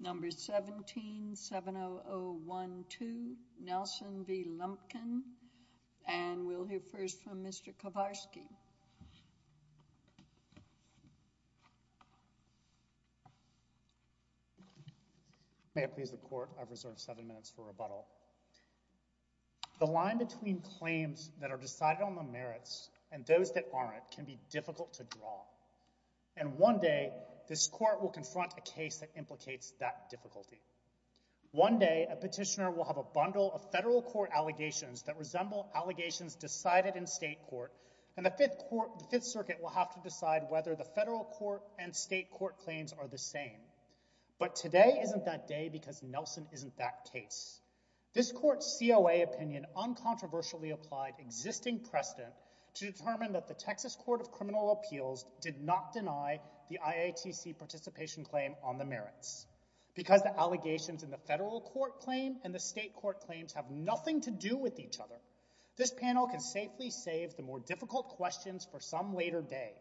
No. 17-70012, Nelson v. Lumpkin, and we'll hear first from Mr. Kowarski. May it please the Court, I've reserved seven minutes for rebuttal. The line between claims that are decided on the merits and those that aren't can be difficult to draw. And one day, this Court will confront a case that implicates that difficulty. One day, a petitioner will have a bundle of federal court allegations that resemble allegations decided in state court, and the Fifth Circuit will have to decide whether the federal court and state court claims are the same. But today isn't that day because Nelson isn't that case. This Court's COA opinion uncontroversially applied existing precedent to determine that the Texas Court of Criminal Appeals did not deny the IATC participation claim on the merits. Because the allegations in the federal court claim and the state court claims have nothing to do with each other, this panel can safely save the more difficult questions for some later day.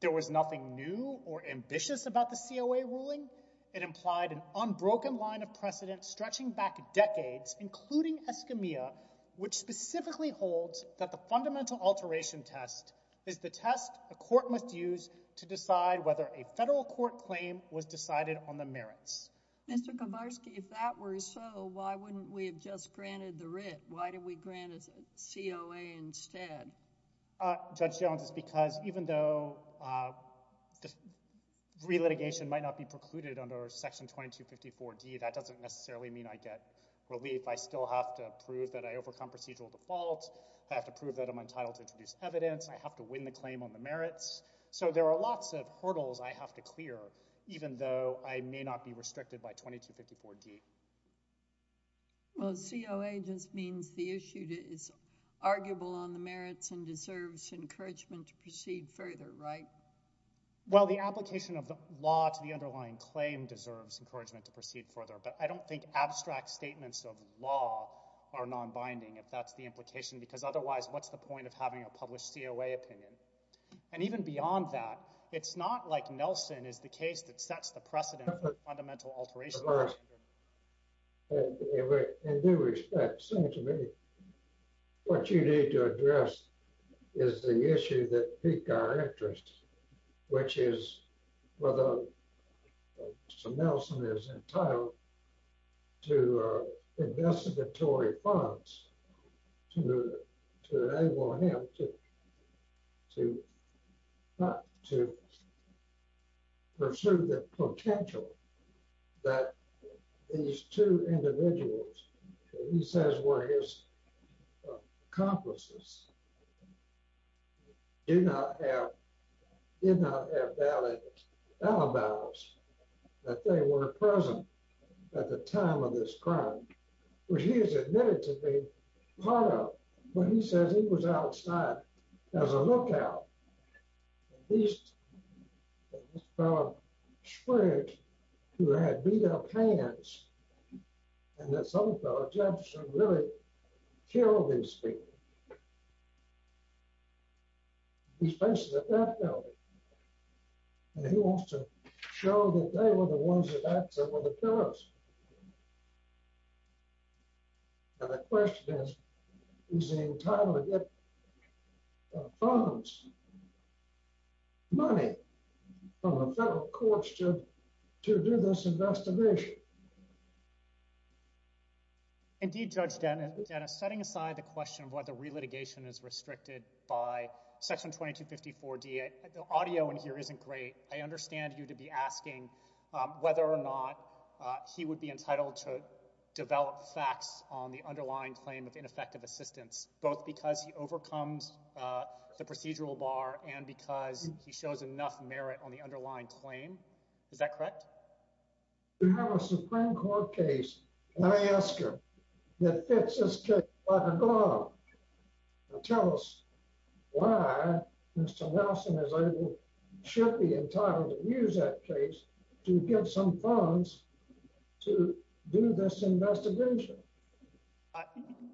There was nothing new or ambitious about the COA ruling. It implied an unbroken line of precedent stretching back decades, including Escamilla, which specifically holds that the fundamental alteration test is the test a court must use to decide whether a federal court claim was decided on the merits. Mr. Kowarski, if that were so, why wouldn't we have just granted the writ? Why did we grant a COA instead? Judge Jones, it's because even though relitigation might not be precluded under Section 2254D, that doesn't necessarily mean I get relief. I still have to prove that I overcome procedural default. I have to prove that I'm entitled to introduce evidence. I have to win the claim on the merits. So there are lots of hurdles I have to clear, even though I may not be restricted by 2254D. Well, COA just means the issue is arguable on the merits and deserves encouragement to proceed further, right? Well, the application of the law to the underlying claim deserves encouragement to proceed further, but I don't think abstract statements of law are nonbinding, if that's the implication, because otherwise what's the point of having a published COA opinion? And even beyond that, it's not like Nelson is the case that sets the precedent for fundamental alteration. In due respect, Senator, what you need to address is the issue that piqued our interest, which is whether Nelson is entitled to investigatory funds to enable him to pursue the potential that these two individuals, he says were his accomplices, did not have valid alibis that they were present at the time of this crime, which he has admitted to being part of, but he says he was outside as a lookout. And this fellow swears he had beat up hands, and this other fellow, Jefferson, really killed these people. He's facing a death penalty. And he wants to show that they were the ones that acted as the killers. And the question is, is he entitled to get funds, money, from the federal courts to do this investigation? Indeed, Judge Dennis, setting aside the question of whether relitigation is restricted by Section 2254D, the audio in here isn't great. I understand you to be asking whether or not he would be entitled to develop facts on the underlying claim of ineffective assistance, both because he overcomes the procedural bar and because he shows enough merit on the underlying claim. Is that correct? We have a Supreme Court case in IESCA that fits this case like a glove. Tell us why Mr. Nelson is able, should be entitled to use that case to get some funds to do this investigation.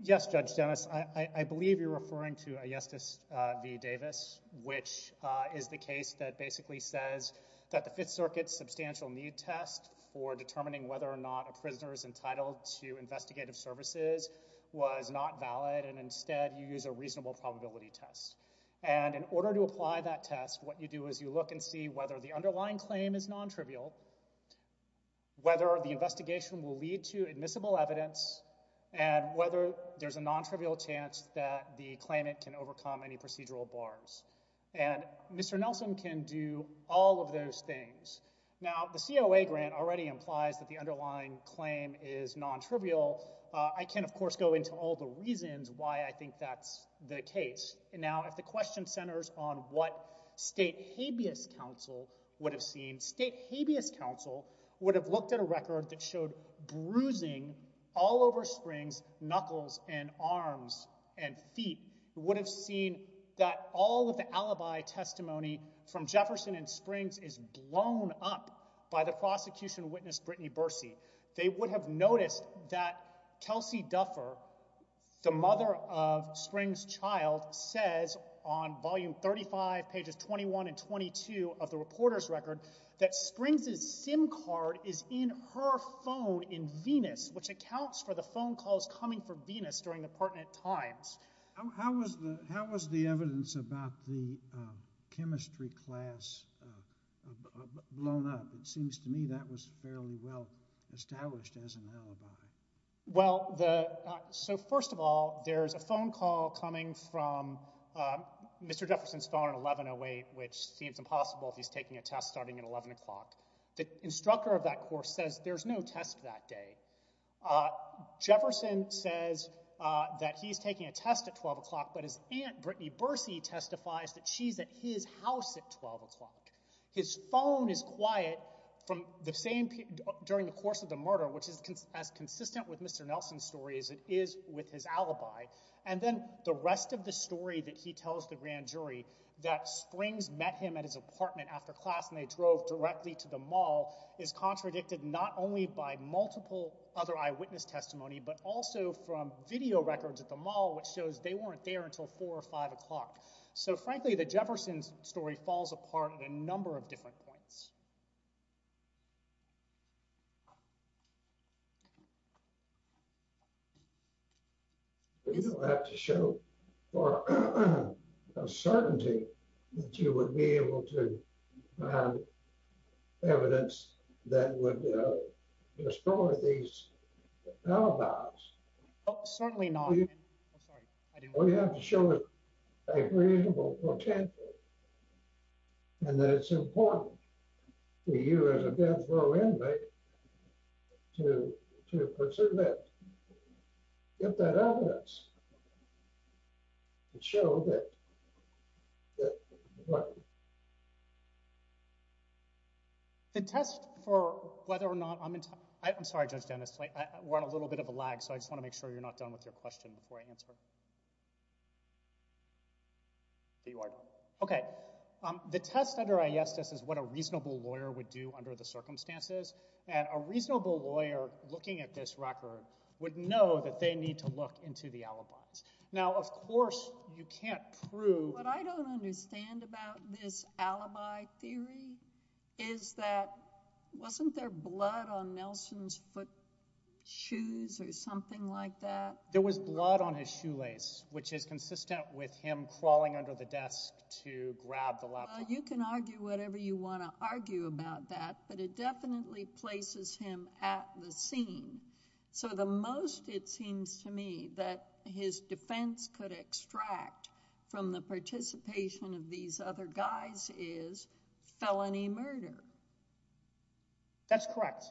Yes, Judge Dennis, I believe you're referring to IESCA v. Davis, which is the case that basically says that the Fifth Circuit's substantial need test for determining whether or not a prisoner is entitled to investigative services was not valid, and instead you use a reasonable probability test. And in order to apply that test, what you do is you look and see whether the underlying claim is non-trivial, whether the investigation will lead to admissible evidence, and whether there's a non-trivial chance that the claimant can overcome any procedural bars. And Mr. Nelson can do all of those things. Now, the COA grant already implies that the underlying claim is non-trivial. I can, of course, go into all the reasons why I think that's the case. Now, if the question centers on what State Habeas Council would have seen, all over Springs, knuckles and arms and feet, would have seen that all of the alibi testimony from Jefferson and Springs is blown up by the prosecution witness, Brittany Bursey. They would have noticed that Kelsey Duffer, the mother of Springs' child, says on volume 35, pages 21 and 22 of the reporter's record, that Springs' SIM card is in her phone in Venus, which accounts for the phone calls coming from Venus during the pertinent times. How was the evidence about the chemistry class blown up? It seems to me that was fairly well established as an alibi. Well, so first of all, there's a phone call coming from Mr. Jefferson's phone at 1108, which seems impossible if he's taking a test starting at 11 o'clock. The instructor of that course says there's no test that day. Jefferson says that he's taking a test at 12 o'clock, but his aunt, Brittany Bursey, testifies that she's at his house at 12 o'clock. His phone is quiet during the course of the murder, which is as consistent with Mr. Nelson's story as it is with his alibi. And then the rest of the story that he tells the grand jury, that Springs met him at his apartment after class and they drove directly to the mall, is contradicted not only by multiple other eyewitness testimony, but also from video records at the mall, which shows they weren't there until 4 or 5 o'clock. So frankly, the Jefferson story falls apart at a number of different points. You don't have to show for certainty that you would be able to find evidence that would destroy these alibis. Oh, certainly not. All you have to show is a reasonable potential, and that it's important to you as a death row inmate to pursue that. Get that evidence to show that. The test for whether or not I'm in time. I'm sorry, Judge Dennis, we're on a little bit of a lag, so I just want to make sure you're not done with your question before I answer it. You are done. Okay. The test under ayestas is what a reasonable lawyer would do under the circumstances. And a reasonable lawyer looking at this record would know that they need to look into the alibis. Now, of course, you can't prove— What I don't understand about this alibi theory is that wasn't there blood on Nelson's foot shoes or something like that? There was blood on his shoelace, which is consistent with him crawling under the desk to grab the laptop. Well, you can argue whatever you want to argue about that, but it definitely places him at the scene. So the most it seems to me that his defense could extract from the participation of these other guys is felony murder. That's correct.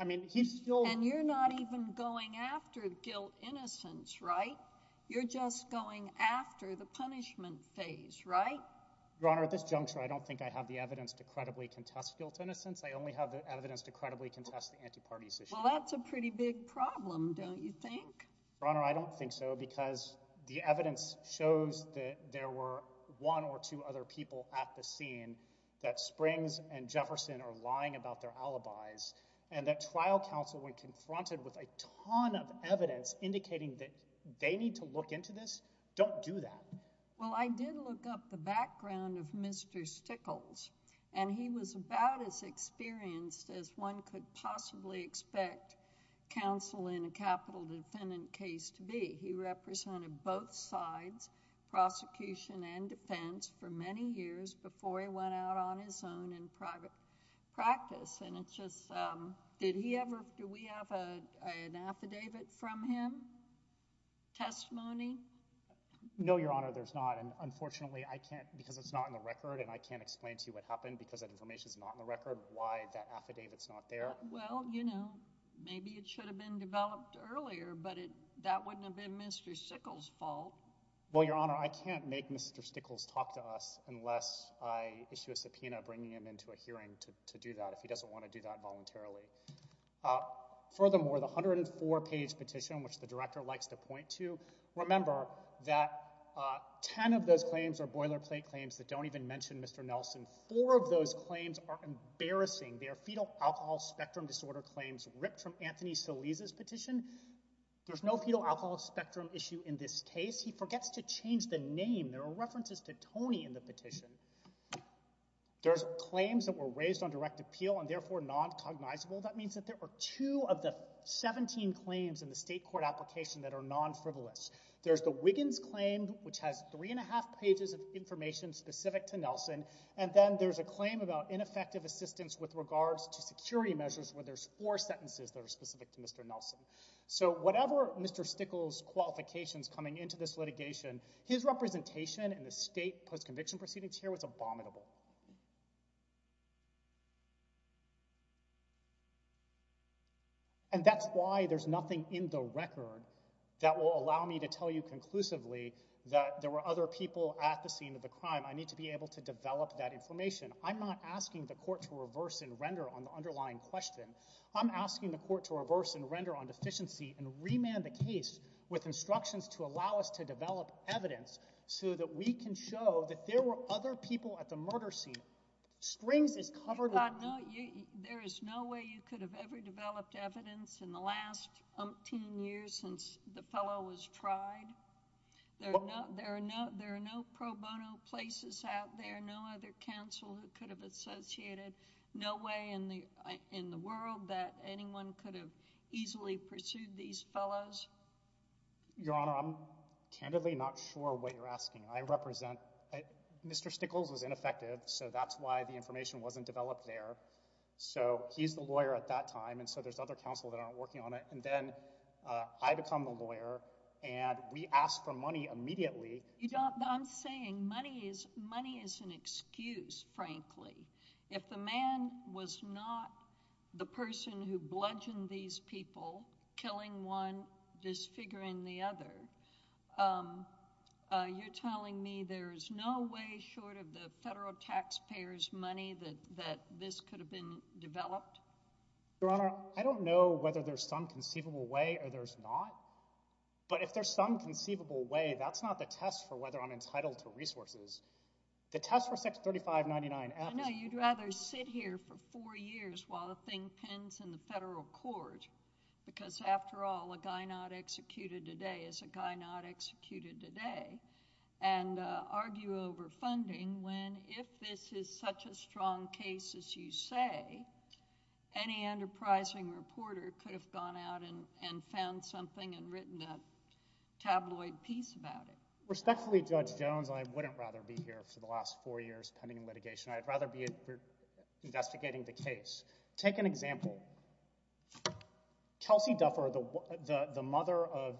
And you're not even going after guilt innocence, right? You're just going after the punishment phase, right? Your Honor, at this juncture, I don't think I have the evidence to credibly contest guilt innocence. I only have the evidence to credibly contest the anti-parties issue. Well, that's a pretty big problem, don't you think? Your Honor, I don't think so because the evidence shows that there were one or two other people at the scene that Springs and Jefferson are lying about their alibis and that trial counsel, when confronted with a ton of evidence indicating that they need to look into this, don't do that. Well, I did look up the background of Mr. Stickles and he was about as experienced as one could possibly expect counsel in a capital defendant case to be. He represented both sides, prosecution and defense, for many years before he went out on his own in private practice. And it's just... did he ever... do we have an affidavit from him, testimony? No, Your Honor, there's not. And unfortunately, I can't... because it's not in the record and I can't explain to you what happened because that information is not in the record, why that affidavit's not there. Well, you know, maybe it should have been developed earlier, but that wouldn't have been Mr. Stickles' fault. Well, Your Honor, I can't make Mr. Stickles talk to us unless I issue a subpoena bringing him into a hearing to do that if he doesn't want to do that voluntarily. Furthermore, the 104-page petition, which the Director likes to point to, remember that 10 of those claims are boilerplate claims that don't even mention Mr. Nelson. Four of those claims are embarrassing. They are fetal alcohol spectrum disorder claims ripped from Anthony Solis' petition. There's no fetal alcohol spectrum issue in this case. He forgets to change the name. There are references to Tony in the petition. There's claims that were raised on direct appeal and therefore non-cognizable. That means that there are two of the 17 claims in the state court application that are non-frivolous. There's the Wiggins claim, which has three and a half pages of information specific to Nelson. And then there's a claim about ineffective assistance with regards to security measures where there's four sentences that are specific to Mr. Nelson. So whatever Mr. Stickles' qualifications coming into this litigation, his representation in the state post-conviction proceedings here was abominable. And that's why there's nothing in the record that will allow me to tell you conclusively that there were other people at the scene of the crime. I need to be able to develop that information. I'm not asking the court to reverse and render on the underlying question. I'm asking the court to reverse and render on deficiency and remand the case with instructions to allow us to develop evidence so that we can show that there were other people at the murder scene. Strings is covered up. There is no way you could have ever developed evidence in the last 10 years since the fellow was tried. There are no pro bono places out there, no other counsel who could have associated no way in the world that anyone could have easily pursued these fellows. Your Honor, I'm candidly not sure what you're asking. I represent—Mr. Stickles was ineffective, so that's why the information wasn't developed there. So he's the lawyer at that time, and so there's other counsel that aren't working on it. And then I become the lawyer, and we ask for money immediately. I'm saying money is an excuse, frankly. If the man was not the person who bludgeoned these people, killing one, disfiguring the other, you're telling me there is no way short of the federal taxpayer's money that this could have been developed? Your Honor, I don't know whether there's some conceivable way or there's not, but if there's some conceivable way, that's not the test for whether I'm entitled to resources. The test for Section 3599— Any enterprising reporter could have gone out and found something and written a tabloid piece about it. Respectfully, Judge Jones, I wouldn't rather be here for the last four years pending litigation. I'd rather be investigating the case. Take an example. Kelsey Duffer, the mother of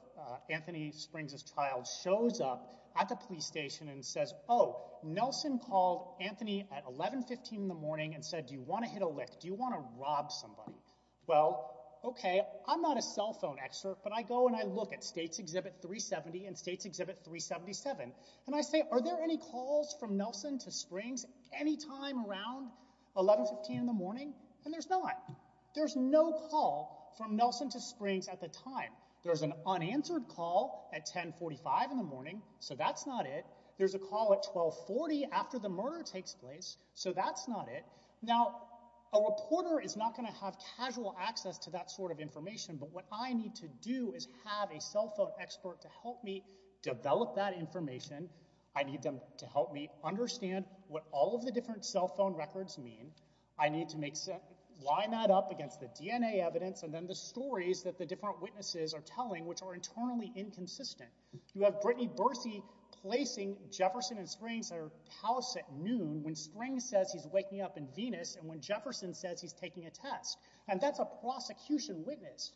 Anthony Springs' child, shows up at the police station and says, Oh, Nelson called Anthony at 1115 in the morning and said, Do you want to hit a lick? Do you want to rob somebody? Well, okay, I'm not a cell phone expert, but I go and I look at States Exhibit 370 and States Exhibit 377, and I say, Are there any calls from Nelson to Springs any time around 1115 in the morning? And there's not. There's no call from Nelson to Springs at the time. There's an unanswered call at 1045 in the morning, so that's not it. There's a call at 1240 after the murder takes place, so that's not it. Now, a reporter is not going to have casual access to that sort of information, but what I need to do is have a cell phone expert to help me develop that information. I need them to help me understand what all of the different cell phone records mean. I need to line that up against the DNA evidence and then the stories that the different witnesses are telling, which are internally inconsistent. You have Brittany Bursey placing Jefferson and Springs at her house at noon when Springs says he's waking up in Venus and when Jefferson says he's taking a test, and that's a prosecution witness.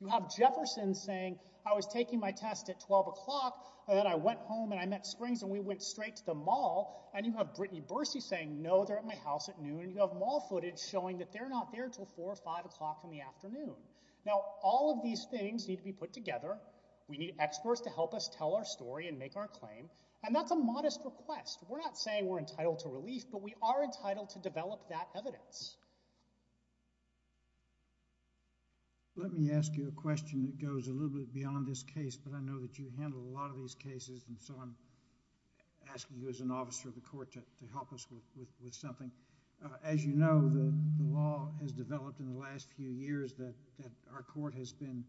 You have Jefferson saying, I was taking my test at 12 o'clock, and then I went home and I met Springs and we went straight to the mall, and you have Brittany Bursey saying, No, they're at my house at noon. You have mall footage showing that they're not there until 4 or 5 o'clock in the afternoon. Now, all of these things need to be put together. We need experts to help us tell our story and make our claim, and that's a modest request. We're not saying we're entitled to relief, but we are entitled to develop that evidence. Let me ask you a question that goes a little bit beyond this case, but I know that you handle a lot of these cases, and so I'm asking you as an officer of the court to help us with something. As you know, the law has developed in the last few years that our court has been,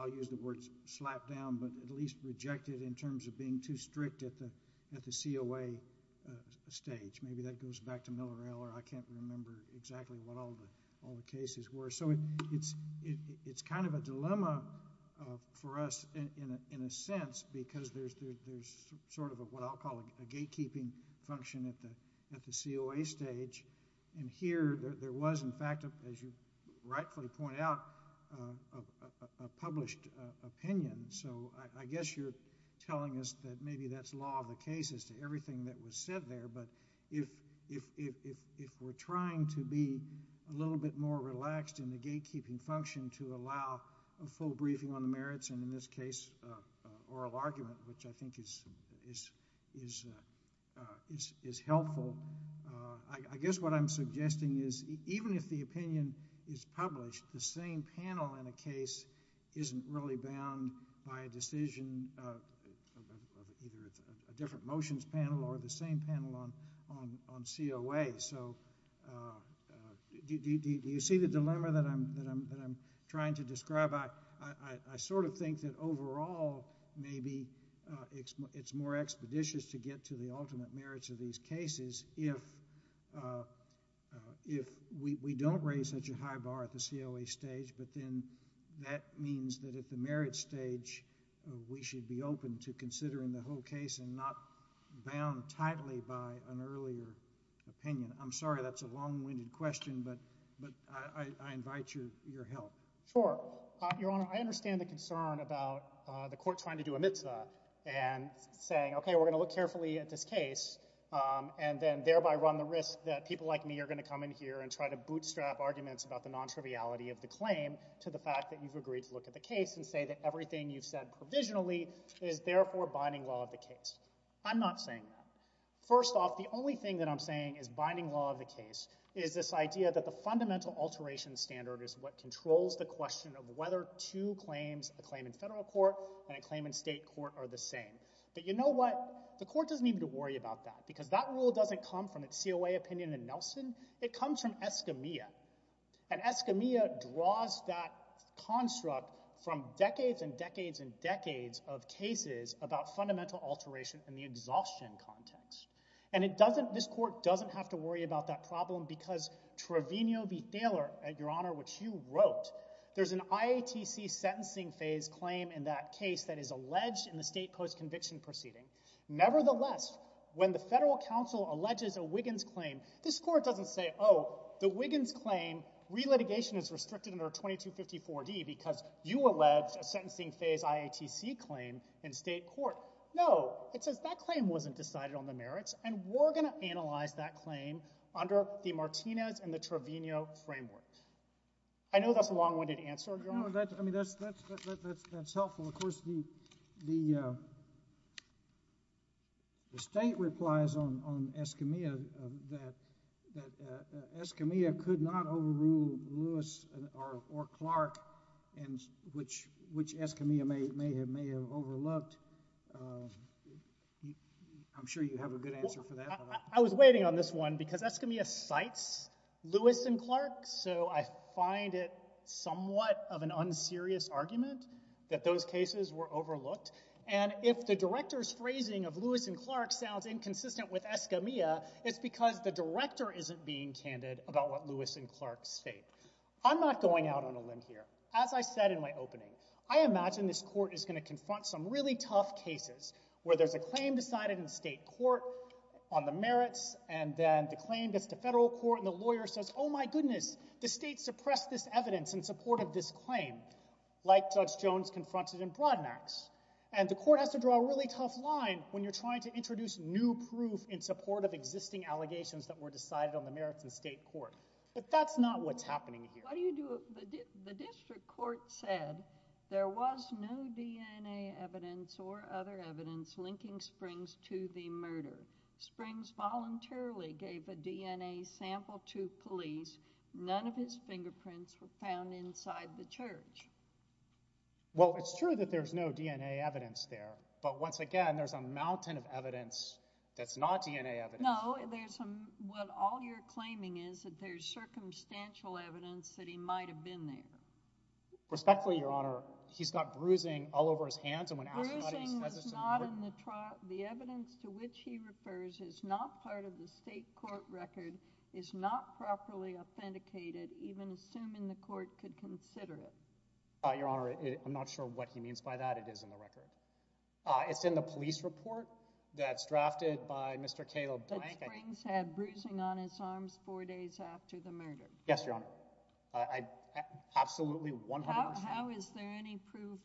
I'll use the word slapped down, but at least rejected in terms of being too strict at the COA stage. Maybe that goes back to Miller L, or I can't remember exactly what all the cases were. So it's kind of a dilemma for us in a sense because there's sort of what I'll call a gatekeeping function at the COA stage, and here there was, in fact, as you rightfully pointed out, a published opinion. So I guess you're telling us that maybe that's law of the case as to everything that was said there, but if we're trying to be a little bit more relaxed in the gatekeeping function to allow a full briefing on the merits and, in this case, oral argument, which I think is helpful, I guess what I'm suggesting is even if the opinion is published, the same panel in a case isn't really bound by a decision of either a different motions panel or the same panel on COA. So do you see the dilemma that I'm trying to describe? I sort of think that overall maybe it's more expeditious to get to the ultimate merits of these cases if we don't raise such a high bar at the COA stage, but then that means that at the merits stage, we should be open to considering the whole case and not bound tightly by an earlier opinion. I'm sorry, that's a long-winded question, but I invite your help. Sure. Your Honor, I understand the concern about the court trying to do a mitzvah and saying, okay, we're going to look carefully at this case and then thereby run the risk that people like me are going to come in here and try to bootstrap arguments about the non-triviality of the claim to the fact that you've agreed to look at the case and say that everything you've said provisionally is therefore binding law of the case. I'm not saying that. First off, the only thing that I'm saying is binding law of the case is this idea that the fundamental alteration standard is what controls the question of whether two claims, a claim in federal court and a claim in state court, are the same. But you know what? The court doesn't need to worry about that because that rule doesn't come from its COA opinion in Nelson. It comes from Escamilla, and Escamilla draws that construct from decades and decades and decades of cases about fundamental alteration in the exhaustion context. And this court doesn't have to worry about that problem because Trevino v. Thaler, Your Honor, which you wrote, there's an IATC sentencing phase claim in that case that is alleged in the state post-conviction proceeding. Nevertheless, when the federal counsel alleges a Wiggins claim, this court doesn't say, oh, the Wiggins claim, re-litigation is restricted under 2254D because you allege a sentencing phase IATC claim in state court. No, it says that claim wasn't decided on the merits, and we're going to analyze that claim under the Martinez and the Trevino framework. I know that's a long-winded answer, Your Honor. I mean, that's helpful. Of course, the state replies on Escamilla that Escamilla could not overrule Lewis or Clark, which Escamilla may have overlooked. I'm sure you have a good answer for that. I was waiting on this one because Escamilla cites Lewis and Clark, so I find it somewhat of an unserious argument that those cases were overlooked. And if the director's phrasing of Lewis and Clark sounds inconsistent with Escamilla, it's because the director isn't being candid about what Lewis and Clark state. I'm not going out on a limb here. As I said in my opening, I imagine this court is going to confront some really tough cases where there's a claim decided in state court on the merits, and then the claim gets to federal court, and the lawyer says, oh my goodness, the state suppressed this evidence in support of this claim, like Judge Jones confronted in Broadmax. And the court has to draw a really tough line when you're trying to introduce new proof in support of existing allegations that were decided on the merits in state court. But that's not what's happening here. The district court said there was no DNA evidence or other evidence linking Springs to the murder. Springs voluntarily gave a DNA sample to police. None of his fingerprints were found inside the church. Well, it's true that there's no DNA evidence there, but once again, there's a mountain of evidence that's not DNA evidence. No, all you're claiming is that there's circumstantial evidence that he might have been there. Respectfully, Your Honor, he's got bruising all over his hands. Bruising is not in the trial. The evidence to which he refers is not part of the state court record, is not properly authenticated, even assuming the court could consider it. Your Honor, I'm not sure what he means by that. It is in the record. It's in the police report that's drafted by Mr. Cato Blank. That Springs had bruising on his arms four days after the murder. Yes, Your Honor. Absolutely 100%. How is there any proof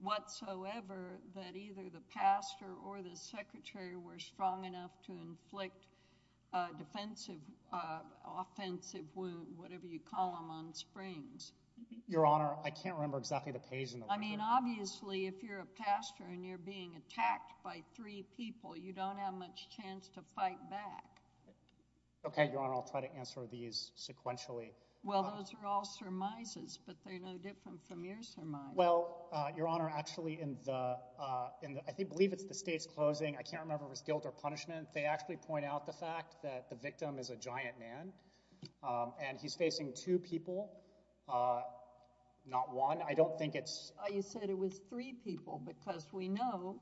whatsoever that either the pastor or the secretary were strong enough to inflict a defensive, offensive wound, whatever you call them, on Springs? Your Honor, I can't remember exactly the page in the record. I mean, obviously, if you're a pastor and you're being attacked by three people, you don't have much chance to fight back. Okay, Your Honor, I'll try to answer these sequentially. Well, those are all surmises, but they're no different from your surmise. Well, Your Honor, actually, I believe it's the state's closing. I can't remember if it was guilt or punishment. They actually point out the fact that the victim is a giant man, and he's facing two people, not one. I don't think it's... You said it was three people, because we know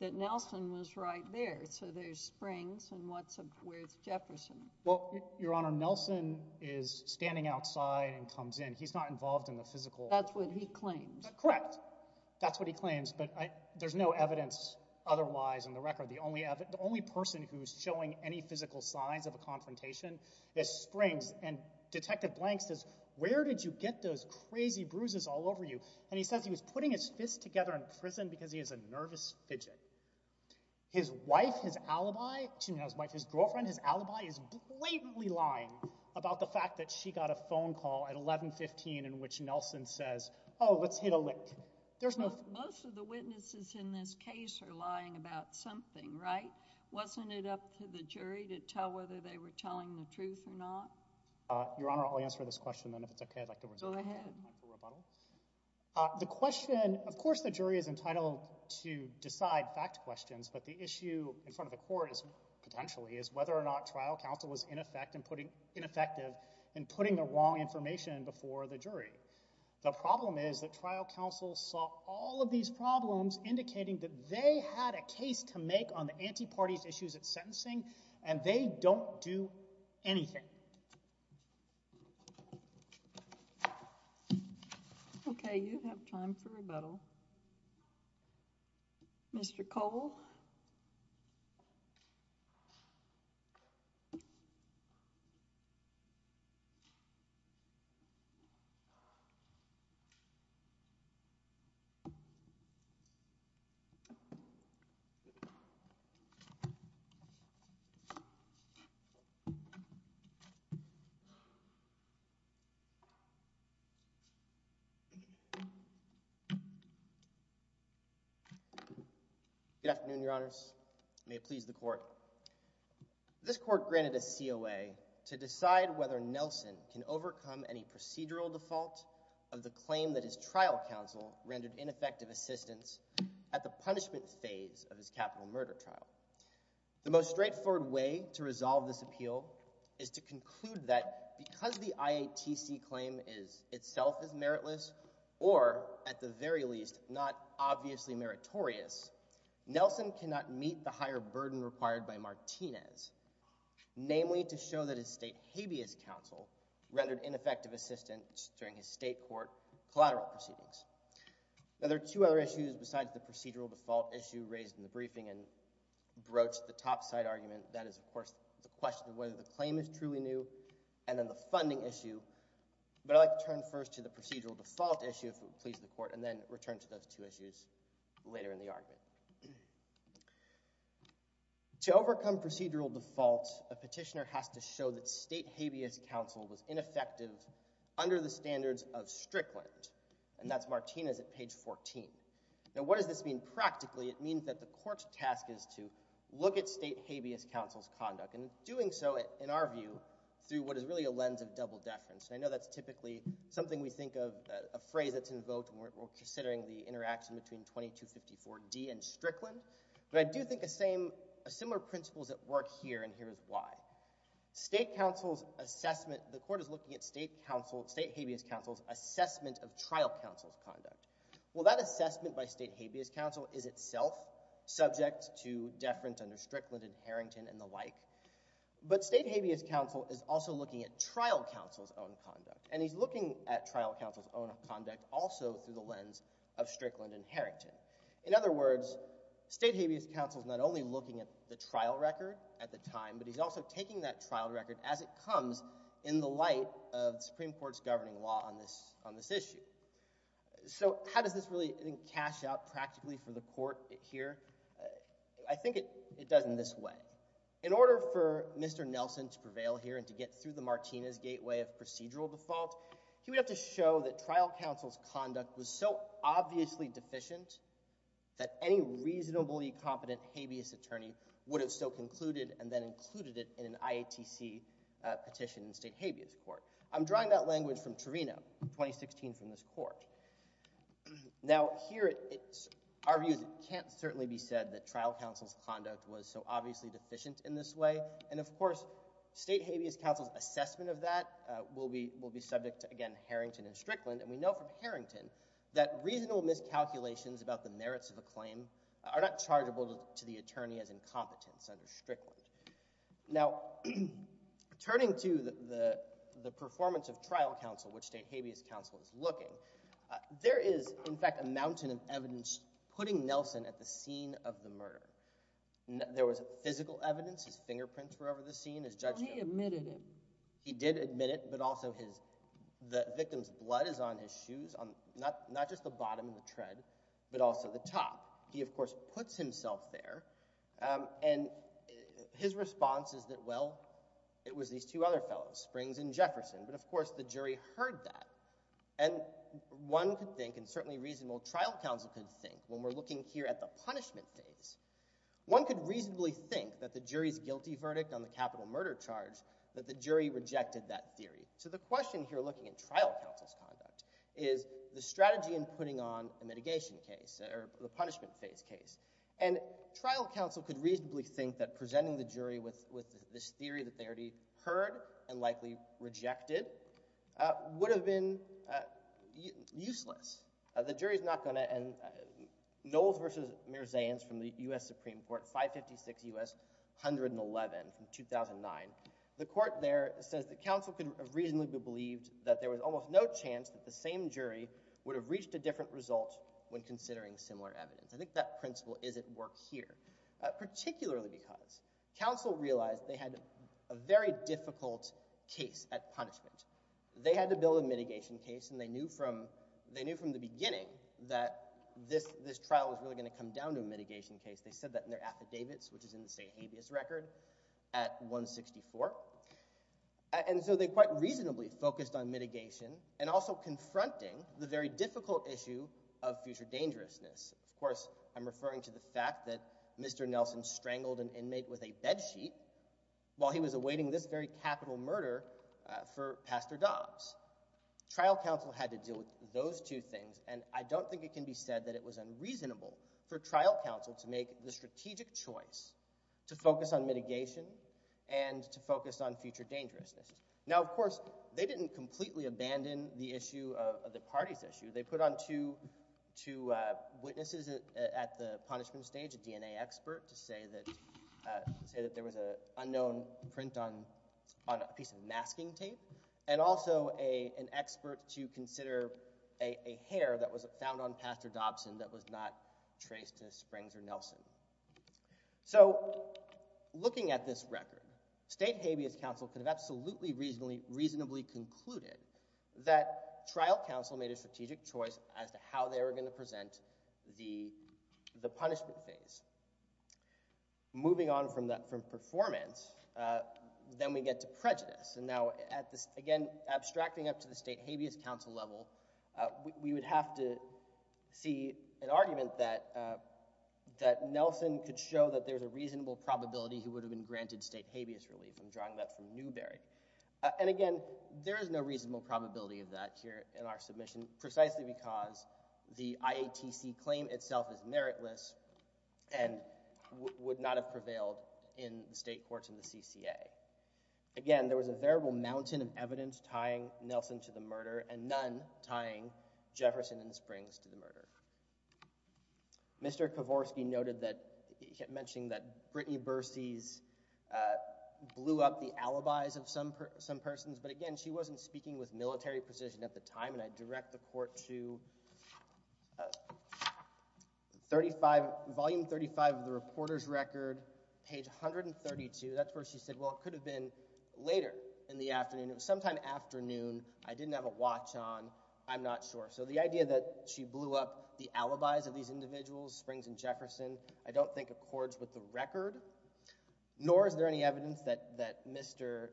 that Nelson was right there. So there's Springs, and where's Jefferson? Well, Your Honor, Nelson is standing outside and comes in. He's not involved in the physical... That's what he claims. Correct. That's what he claims. But there's no evidence otherwise in the record. The only person who's showing any physical signs of a confrontation is Springs, and Detective Blank says, Where did you get those crazy bruises all over you? And he says he was putting his fist together in prison because he has a nervous fidget. His wife, his alibi... His girlfriend, his alibi is blatantly lying about the fact that she got a phone call at 1115 in which Nelson says, Oh, let's hit a lick. Most of the witnesses in this case are lying about something, right? Wasn't it up to the jury to tell whether they were telling the truth or not? Your Honor, I'll answer this question, and if it's okay, I'd like to... Go ahead. The question... Of course the jury is entitled to decide fact questions, but the issue in front of the court potentially is whether or not trial counsel was ineffective in putting the wrong information before the jury. The problem is that trial counsel saw all of these problems on the anti-party's issues at sentencing, and they don't do anything. Okay, you have time for rebuttal. Mr. Cole? Good afternoon, Your Honors. May it please the court. This court granted a COA to decide whether Nelson can overcome any procedural default of the claim that his trial counsel rendered ineffective assistance at the punishment phase of his capital murder trial. is not a member of the Supreme Court. The preferred way to resolve this appeal is to conclude that because the IATC claim itself is meritless or, at the very least, not obviously meritorious, Nelson cannot meet the higher burden required by Martinez, namely to show that his state habeas counsel rendered ineffective assistance during his state court collateral proceedings. Now, there are two other issues besides the procedural default issue that I raised in the briefing and broached the topside argument. That is, of course, the question of whether the claim is truly new and then the funding issue. But I'd like to turn first to the procedural default issue, if it would please the court, and then return to those two issues later in the argument. To overcome procedural default, a petitioner has to show that state habeas counsel was ineffective under the standards of Strickland, and that's Martinez at page 14. Now, what does this mean practically? It means that the court's task is to look at state habeas counsel's conduct and doing so, in our view, through what is really a lens of double deference. And I know that's typically something we think of as a phrase that's invoked when we're considering the interaction between 2254D and Strickland, but I do think of similar principles at work here, and here is why. The court is looking at state habeas counsel's assessment of trial counsel's conduct. Well, that assessment by state habeas counsel is itself subject to deference under Strickland and Harrington and the like, but state habeas counsel is also looking at trial counsel's own conduct, and he's looking at trial counsel's own conduct also through the lens of Strickland and Harrington. In other words, state habeas counsel is not only looking at the trial record at the time, but he's also taking that trial record as it comes in the light of the Supreme Court's governing law on this issue. So how does this really, I think, cash out practically for the court here? I think it does in this way. In order for Mr. Nelson to prevail here and to get through the Martinez gateway of procedural default, he would have to show that trial counsel's conduct was so obviously deficient that any reasonably competent habeas attorney would have so concluded and then included it in an IATC petition in state habeas court. I'm drawing that language from Torino, 2016 from this court. Now, here, our view is it can't certainly be said that trial counsel's conduct was so obviously deficient in this way, and of course, state habeas counsel's assessment of that will be subject to, again, Harrington and Strickland, and we know from Harrington that reasonable miscalculations about the merits of a claim are not chargeable to the attorney as incompetence under Strickland. Now, turning to the performance of trial counsel, which state habeas counsel is looking, there is, in fact, a mountain of evidence putting Nelson at the scene of the murder. There was physical evidence, his fingerprints were over the scene, his judgment. He admitted it. He did admit it, but also the victim's blood is on his shoes, not just the bottom of the tread, but also the top. He, of course, puts himself there, and his response is that, well, it was these two other fellows, Springs and Jefferson, but of course the jury heard that. And one could think, and certainly reasonable trial counsel could think, when we're looking here at the punishment phase, one could reasonably think that the jury's guilty verdict on the capital murder charge, that the jury rejected that theory. So the question here, looking at trial counsel's conduct, is the strategy in putting on a mitigation case, or the punishment phase case. And trial counsel could reasonably think that presenting the jury with this theory that they already heard, and likely rejected, would have been useless. The jury's not going to, and Knowles v. Mirzayans from the U.S. Supreme Court, 556 U.S. 111 from 2009, the court there says that counsel could have reasonably believed that there was almost no chance that the same jury would have reached a different result when considering similar evidence. I think that principle is at work here, particularly because counsel realized they had a very difficult case at punishment. They had to build a mitigation case, and they knew from the beginning that this trial was really going to come down to a mitigation case. They said that in their affidavits, which is in the state habeas record, at 164, and so they quite reasonably focused on mitigation, and also confronting the very difficult issue of future dangerousness. Of course, I'm referring to the fact that Mr. Nelson strangled an inmate with a bed sheet while he was awaiting this very capital murder for Pastor Dobbs. Trial counsel had to deal with those two things, and I don't think it can be said that it was unreasonable for trial counsel to make the strategic choice to focus on mitigation and to focus on future dangerousness. Now, of course, they didn't completely abandon the party's issue. They put on two witnesses at the punishment stage, a DNA expert, to say that there was an unknown print on a piece of masking tape, and also an expert to consider a hair that was found on Davis Springs or Nelson. Looking at this record, state habeas counsel could have absolutely reasonably concluded that trial counsel made a strategic choice as to how they were going to present the punishment phase. Moving on from performance, then we get to prejudice. Again, abstracting up to the state habeas counsel level, we would have to see an argument that Nelson could show that there's a reasonable probability he would have been granted state habeas relief. I'm drawing that from Newberry. Again, there is no reasonable probability of that here in our submission, precisely because the IATC claim itself is meritless and would not have prevailed in the state courts and the CCA. Again, there was a veritable mountain of evidence tying Nelson to the murder, and none tying Jefferson and Springs to the murder. Mr. Kavorsky noted that he kept mentioning that Brittany Bursey's blew up the alibis of some persons, but again, she wasn't speaking with military precision at the time, and I direct the court to volume 35 of the reporter's record, page 132. That's where she said, well, it could have been later in the afternoon. It was sometime afternoon. I didn't have a watch on. I'm not sure. So the idea that she blew up the alibis of these individuals, Springs and Jefferson, I don't think accords with the record, nor is there any evidence that Mr.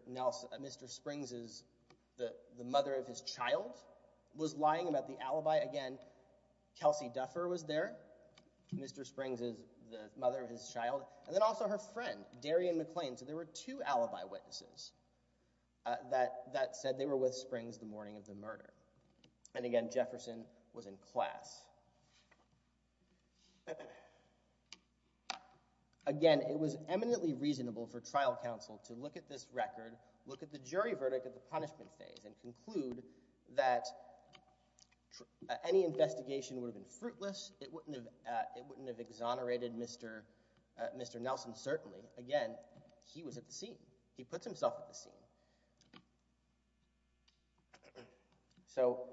Springs' mother of his child was lying about the alibi. Again, Kelsey Duffer was there, Mr. Springs' mother of his child, and then also her friend, Darian McLean. So there were two alibi witnesses that said they were with Springs the morning of the murder. And again, Jefferson was in class. Again, it was eminently reasonable for trial counsel to look at this record, look at the jury verdict of the punishment phase, and conclude that any investigation would have been fruitless. It wouldn't have exonerated Mr. Nelson, certainly. Again, he was at the scene. He puts himself at the scene. So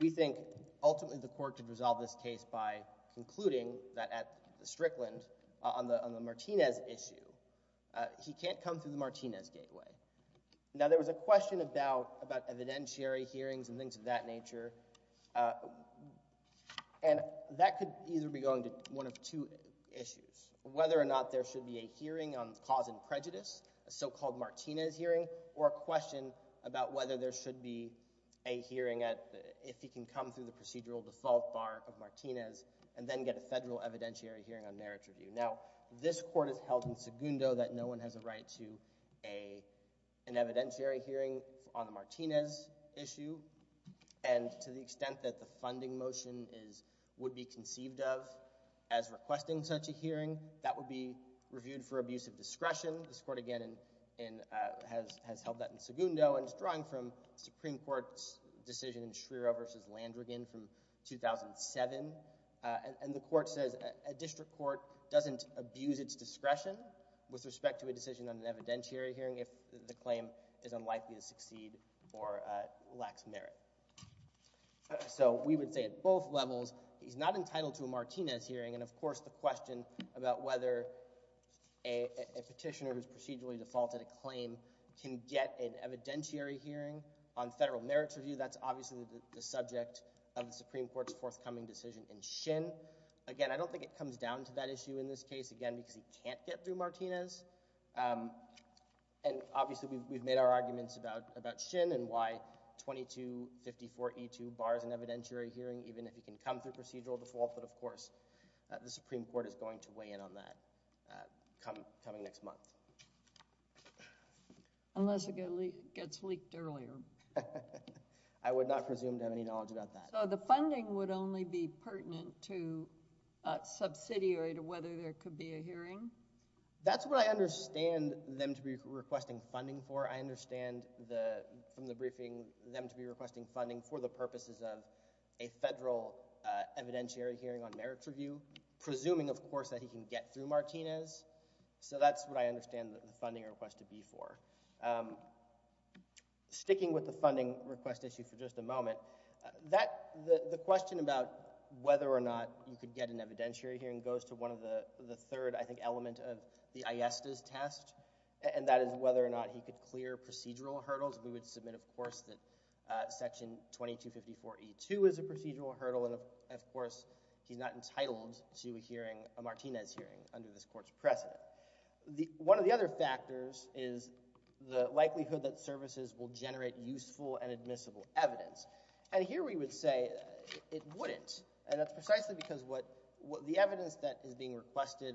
we think ultimately the court could resolve this case by concluding that at the Strickland, on the Martinez issue, he can't come through the Martinez gateway. Now, there was a question about evidentiary hearings and things of that nature, and that could either be going to one of two issues, whether or not there should be a hearing on cause and prejudice, a so-called Martinez hearing, or a question about whether there should be a hearing if he can come through the procedural default bar of Martinez and then get a federal evidentiary hearing on marriage review. Now, this court has held in segundo that no one has a right to an evidentiary hearing on the Martinez issue, and to the extent that the funding motion would be conceived of as requesting such a hearing, that would be reviewed for abusive discretion. This court, again, has held that in segundo, and it's drawing from the Supreme Court's decision in Schriero v. Landrigan from 2007, and the court says a district court doesn't abuse its discretion with respect to a decision on an evidentiary hearing if the claim is unlikely to succeed or lacks merit. So we would say at both levels, he's not entitled to a Martinez hearing, and of course the question about whether a petitioner who's procedurally defaulted a claim can get an evidentiary hearing on federal marriage review, that's obviously the subject of the Supreme Court's forthcoming decision in Shin. Again, I don't think it comes down to that issue in this case, again, because he can't get through and we've made our arguments about Shin and why 2254E2 bars an evidentiary hearing even if he can come through procedural default, but of course the Supreme Court is going to weigh in on that coming next month. Unless it gets leaked earlier. I would not presume to have any knowledge about that. So the funding would only be pertinent to subsidiary to whether there could be a hearing? That's what I understand them to be requesting funding for. I understand from the briefing them to be requesting funding for the purposes of a federal evidentiary hearing on marriage review presuming of course that he can get through Martinez so that's what I understand the funding request to be for. Sticking with the funding request issue for just a moment, the question about whether or not you could get an evidentiary hearing goes to one of the third I think element of the Aiesta's test and that is whether or not he could clear procedural hurdles. We would submit of course that section 2254E2 is a procedural hurdle and of course he's not entitled to a Martinez hearing under this court's precedent. One of the other factors is the likelihood that services will generate useful and admissible evidence. And here we would say it wouldn't and that's precisely because the evidence that is being requested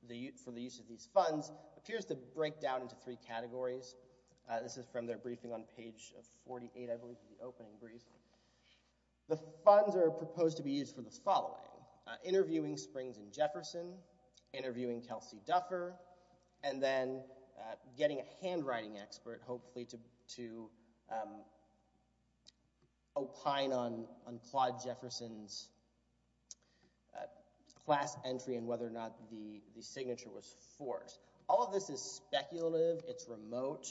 for the use of these funds appears to break down into three categories. This is from their briefing on page 48 I believe of the opening briefing. The funds are proposed to be used for the following. Interviewing Springs and Jefferson, interviewing Kelsey Duffer and then getting a handwriting expert hopefully to opine on Claude Jefferson's class entry and whether or not the signature was forced. All of this is speculative, it's remote.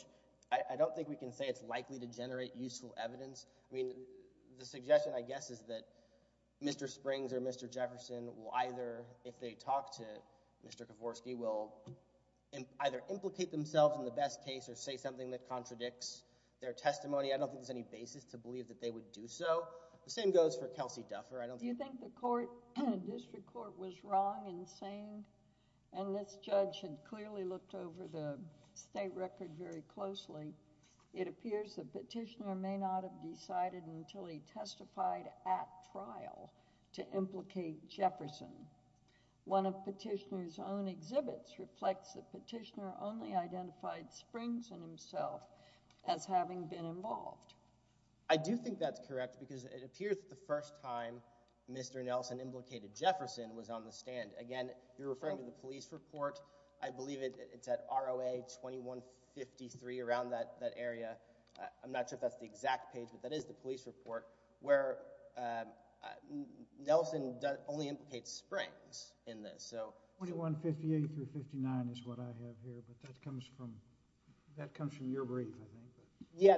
I don't think we can say it's likely to generate useful evidence. The suggestion I guess is that Mr. Springs or Mr. Jefferson will either, if they talk to Mr. Kavorsky, will either implicate themselves in the best case or say something that contradicts their testimony. I don't think there's any basis to believe that they would do so. The same goes for Kelsey Duffer. Do you think the district court was wrong in saying and this judge had clearly looked over the state record very closely, it appears the petitioner may not have decided until he testified at trial to implicate Jefferson. One of petitioner's known exhibits reflects the petitioner only identified Springs and himself as having been involved. I do think that's correct because it appears the first time Mr. Nelson implicated Jefferson was on the stand. Again, you're referring to the police report. I believe it's at ROA 2153 around that area. I'm not sure if that's the exact page, but that is the police report where Nelson only implicates Springs in this. 2158-59 is what I have here, but that comes from your brief, I think. Yeah,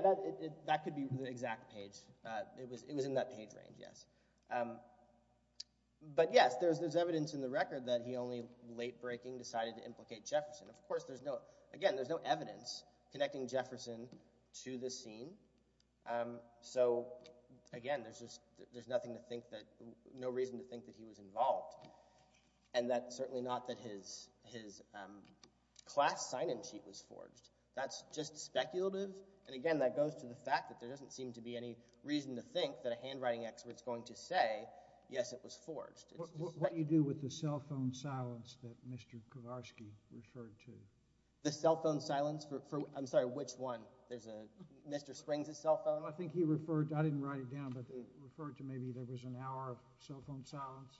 that could be the exact page. It was in that page range, yes. But yes, there's evidence in the record that he only late-breaking decided to implicate Jefferson. Of course, there's no evidence connecting Jefferson to this scene. Again, there's no reason to think that he was involved. And that's certainly not that his class sign-in sheet was forged. That's just speculative. And again, that goes to the fact that there doesn't seem to be any reason to think that a handwriting expert's going to say, yes, it was forged. What do you do with the cell phone silence that Mr. Kowarski referred to? The cell phone silence? I'm sorry, which one? Mr. Springs' cell phone? I think he referred to, I didn't write it down, but he referred to maybe there was an hour of cell phone silence.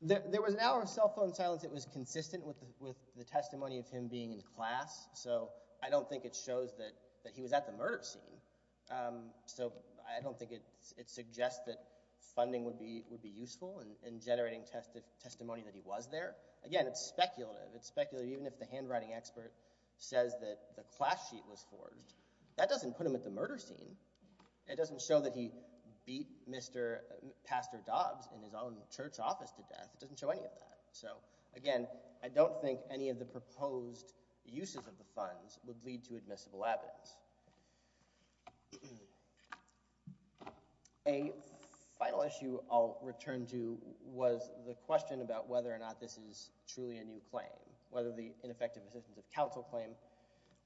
There was an hour of cell phone silence that was consistent with the testimony of him being in class, so I don't think it shows that he was at the murder scene. So I don't think it suggests that funding would be useful in generating testimony that he was there. Again, it's speculative. Even if the handwriting expert says that the class sheet was forged, that doesn't put him at the murder scene. It doesn't show that he beat Pastor Dobbs in his own church office to death. It doesn't show any of that. So again, I don't think any of the proposed uses of the funds would lead to admissible evidence. A final issue I'll return to was the question about whether or not this is truly a new claim, whether the ineffective assistance of counsel claim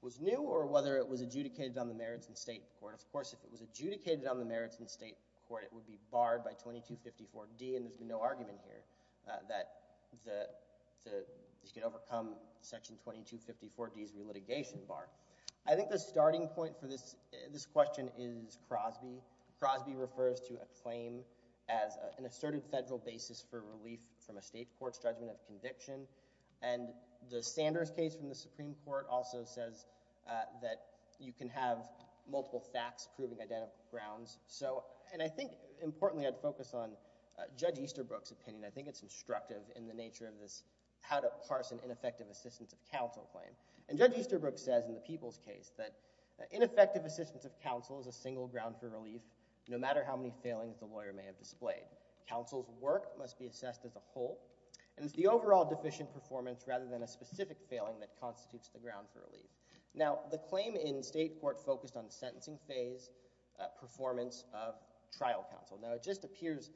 was new or whether it was adjudicated on the merits in state court. Of course, if it was adjudicated on the merits in state court, it would be barred by 2254D and there's been no argument here that he could overcome Section 2254D's relitigation bar. I think the starting point for this question is Crosby. Crosby refers to a claim as an asserted federal basis for relief from a state court's judgment of conviction and the Sanders case from the Supreme Court also says that you can have multiple facts proving identical grounds. And I think, importantly, I'd focus on Judge Easterbrook's opinion. I think it's instructive in the nature of this how to parse an ineffective assistance of counsel claim. And Judge Easterbrook says in the Peoples case that ineffective assistance of counsel is a single ground for relief no matter how many failings the lawyer may have displayed. Counsel's work must be assessed as a whole and it's the overall deficient performance rather than a specific failing that constitutes the ground for relief. Now, the claim in state court focused on sentencing phase performance of trial counsel. Now, it just appears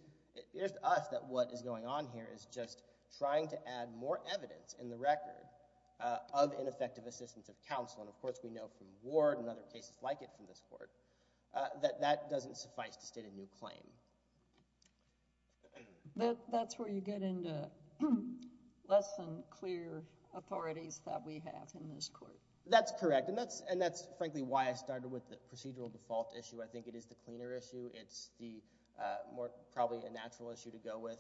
to us that what is going on here is just trying to add more evidence in the record of ineffective assistance of counsel and, of course, we know from Ward and other cases like it from this court that that doesn't suffice to state a new claim. That's where you get into less than clear authorities that we have in this court. That's correct. And that's, frankly, why I started with the procedural default issue. I think it is the cleaner issue. It's the more probably a natural issue to go with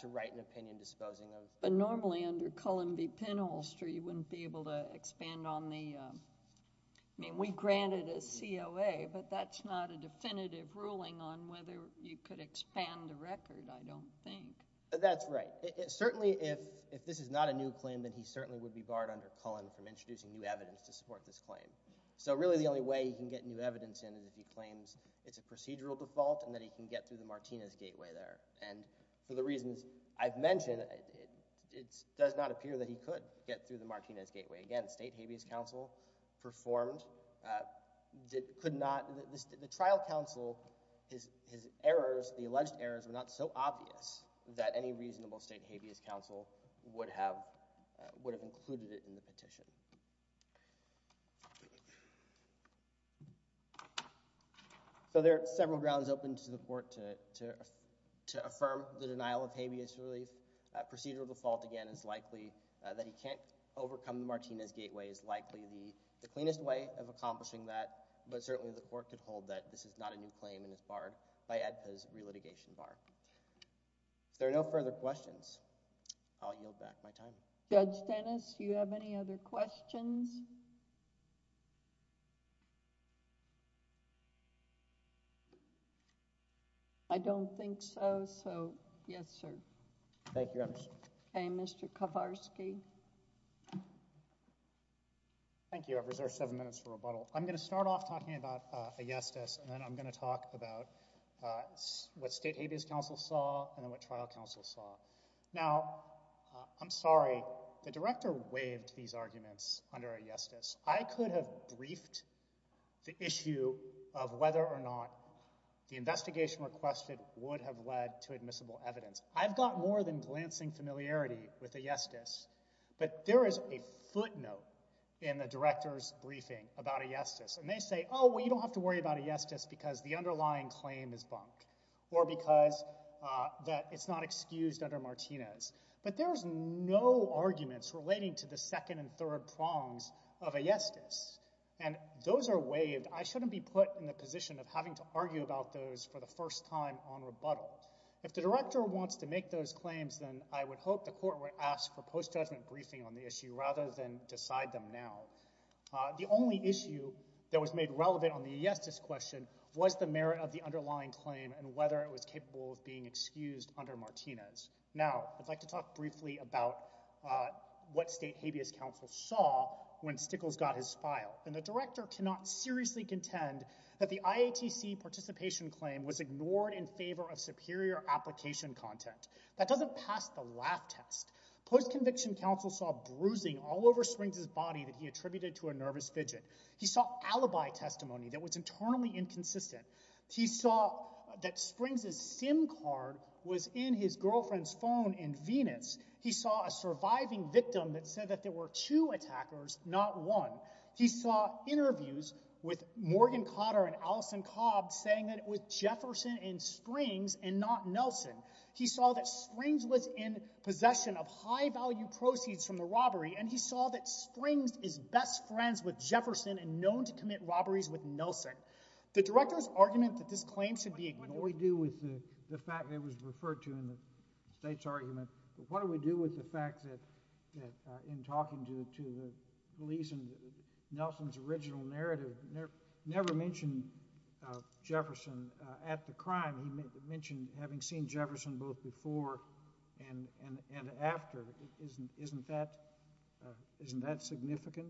to write an opinion disposing of... But normally under Cullen v. Penholster you wouldn't be able to expand on the I mean, we grant it as COA but that's not a definitive ruling on whether you could expand the record, I don't think. That's right. Certainly if this is not a new claim then he certainly would be barred under Cullen from introducing new evidence to support this claim. So really the only way he can get new evidence in is if he claims it's a procedural default and that he can get through the Martinez gateway there. And for the reasons I've mentioned, it does not appear that he performed. The trial counsel, his errors the alleged errors were not so obvious that any reasonable state habeas counsel would have included it in the petition. So there are several grounds open to the court to affirm the denial of habeas relief. Procedural default, again, is likely that he can't accomplish that, but certainly the court could hold that this is not a new claim and is barred by AEDPA's relitigation bar. If there are no further questions, I'll yield back my time. Judge Dennis, do you have any other questions? I don't think so, so yes, sir. Thank you, Your Honor. Mr. Kowarski. Thank you. I've reserved seven minutes for rebuttal. I'm going to start off talking about ayestas and then I'm going to talk about what state habeas counsel saw and what trial counsel saw. Now, I'm sorry. The director waived these arguments under ayestas. I could have briefed the issue of whether or not the investigation requested would have led to admissible evidence. I've got more than glancing familiarity with ayestas, but there is a footnote in the director's briefing about ayestas, and they say, oh, well, you don't have to worry about ayestas because the underlying claim is bunk or because it's not excused under Martinez. But there's no arguments relating to the second and third prongs of ayestas, and those are waived. I shouldn't be put in the position of having to argue about those for the first time on rebuttal. If the director wants to make those claims, then I would hope the court would ask for post-judgment briefing on the issue rather than decide them now. The only issue that was made relevant on the ayestas question was the merit of the underlying claim and whether it was capable of being excused under Martinez. Now, I'd like to talk briefly about what state habeas counsel saw when Stickles got his file, and the director cannot seriously contend that the IATC participation claim was ignored in favor of superior application content. That doesn't pass the laugh test. Post-conviction counsel saw bruising all over Springs' body that he attributed to a nervous fidget. He saw alibi testimony that was internally inconsistent. He saw that Springs' SIM card was in his girlfriend's phone in Venus. He saw a surviving victim that said that there were two attackers, not one. He saw interviews with Morgan Cotter and Allison Cobb saying that it was Jefferson in Springs and not Nelson. He saw that Springs was in possession of high-value proceeds from the robbery, and he saw that Springs is best friends with Jefferson and known to commit robberies with Nelson. The director's argument that this claim should be ignored... What do we do with the fact that it was referred to in the state's argument? What do we do with the fact that in talking to the police and Nelson's original narrative never mentioned Jefferson at the crime. He mentioned having seen Jefferson both before and after. Isn't that significant?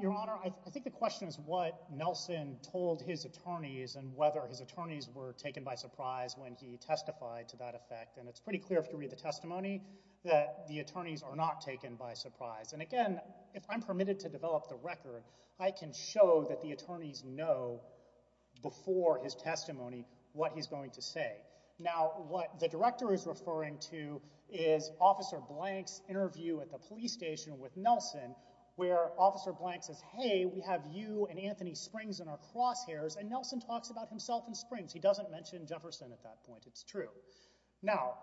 Your Honor, I think the question is what Nelson told his attorneys and whether his attorneys were taken by surprise when he testified to that effect, and it's pretty clear if you read the testimony that the attorneys are not taken by surprise. And again, if I'm permitted to develop the record, I can show that the attorneys know before his testimony what he's going to say. Now, what the director is referring to is Officer Blank's interview at the police station with Nelson where Officer Blank says, hey, we have you and Anthony Springs in our crosshairs and Nelson talks about himself in Springs. He doesn't mention Jefferson at that point. It's true. Now,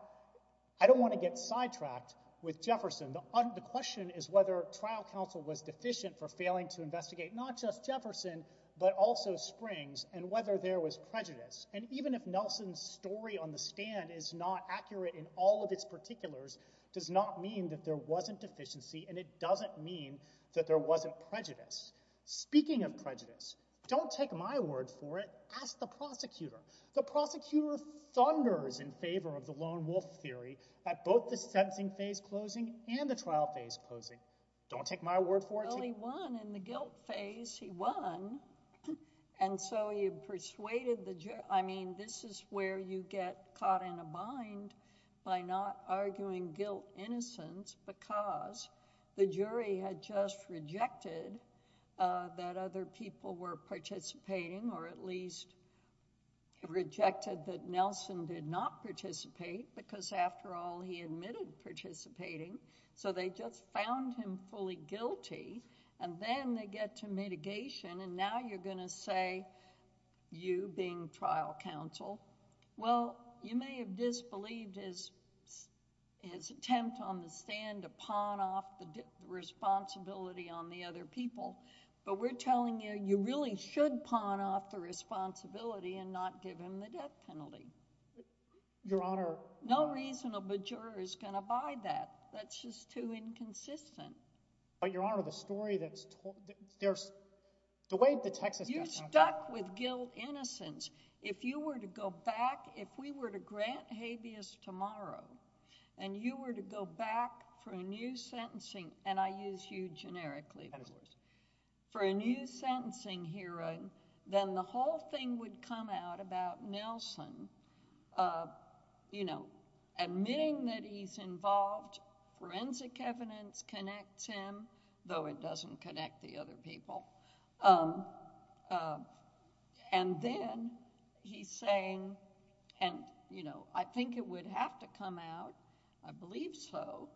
I don't want to get sidetracked with Jefferson. The question is whether trial counsel was deficient for failing to investigate not just Jefferson but also Springs and whether there was prejudice. And even if Nelson's story on the stand is not accurate in all of its particulars does not mean that there wasn't deficiency and it doesn't mean that there wasn't prejudice. Speaking of prejudice, don't take my word for it. Ask the prosecutor. The prosecutor thunders in favor of the lone wolf theory at both the sentencing phase closing and the trial phase closing. Don't take my word for it. Well, he won in the guilt phase. He won. And so he persuaded the jury. I mean, this is where you get caught in a bind by not arguing guilt innocence because the jury had just rejected that other people were participating or at least rejected that Nelson did not participate because after all he admitted participating. So they just found him fully guilty and then they get to mitigation and now you're going to say you being trial counsel. Well, you may have disbelieved his attempt on the stand to pawn off the responsibility on the other people, but we're telling you, you really should pawn off the responsibility and not give him the death penalty. Your Honor, no reasonable juror is going to buy that. That's just too inconsistent. But your Honor, the story that's there's the way the Texas you're stuck with guilt innocence. If you were to go back, if we were to grant habeas tomorrow and you were to go back for a new sentencing, and I use you generically for a new sentencing hearing, then the whole thing would come out about Nelson, you know, admitting that he's involved forensic evidence connects him, though it doesn't connect the other people. And then he's saying, and you know, I think it would have to come out, I believe so,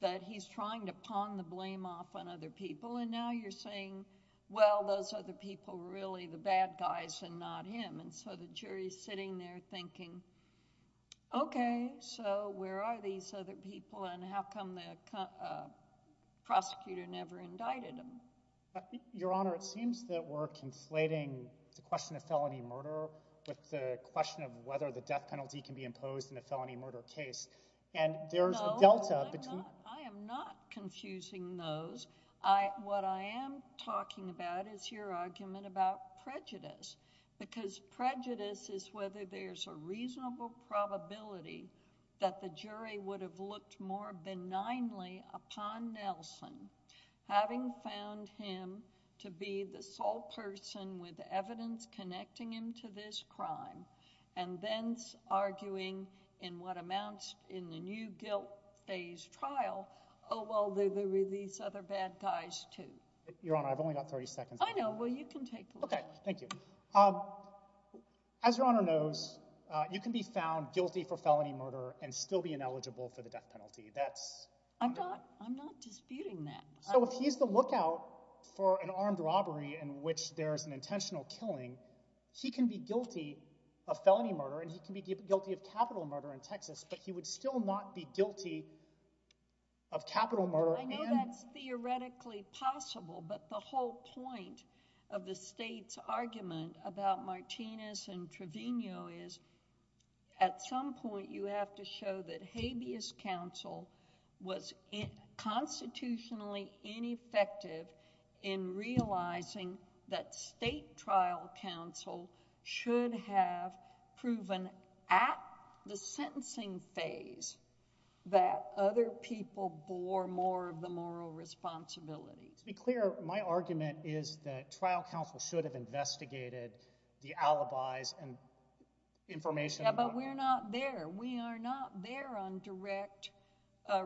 that he's trying to pawn the blame off on other people. And now you're saying, well, those other people were really the bad guys and not him. And so the jury's sitting there thinking, okay, so where are these other people and how come the prosecutor never indicted him? Your Honor, it seems that we're conflating the question of felony murder with the question of whether the death penalty can be imposed in a felony murder case. And there's a delta between... No, I am not confusing those. What I am talking about is your argument about prejudice. Because prejudice is whether there's a reasonable probability that the jury would have looked more benignly upon Nelson, having found him to be the sole person with evidence connecting him to this crime, and then arguing in what amounts in the new guilt phase trial, oh, well, there were these other bad guys too. Your Honor, I've only got 30 seconds. I know, well, you can take the last one. Okay, thank you. As Your Honor knows, you can be found guilty for felony murder and still be ineligible for the death penalty. That's... I'm not disputing that. So if he's the lookout for an armed robbery in which there's an intentional killing, he can be guilty of felony murder and he can be guilty of capital murder in Texas, but he would still not be guilty of capital murder and... I know that's theoretically possible, but the whole point of the state's argument about Martinez and Trevino is at some point you have to show that habeas counsel was constitutionally ineffective in realizing that state trial counsel should have proven at the sentencing phase that other people bore more of the moral responsibility. To be clear, my argument is that trial counsel should have investigated the alibis and information... Yeah, but we're not there. We are not there on direct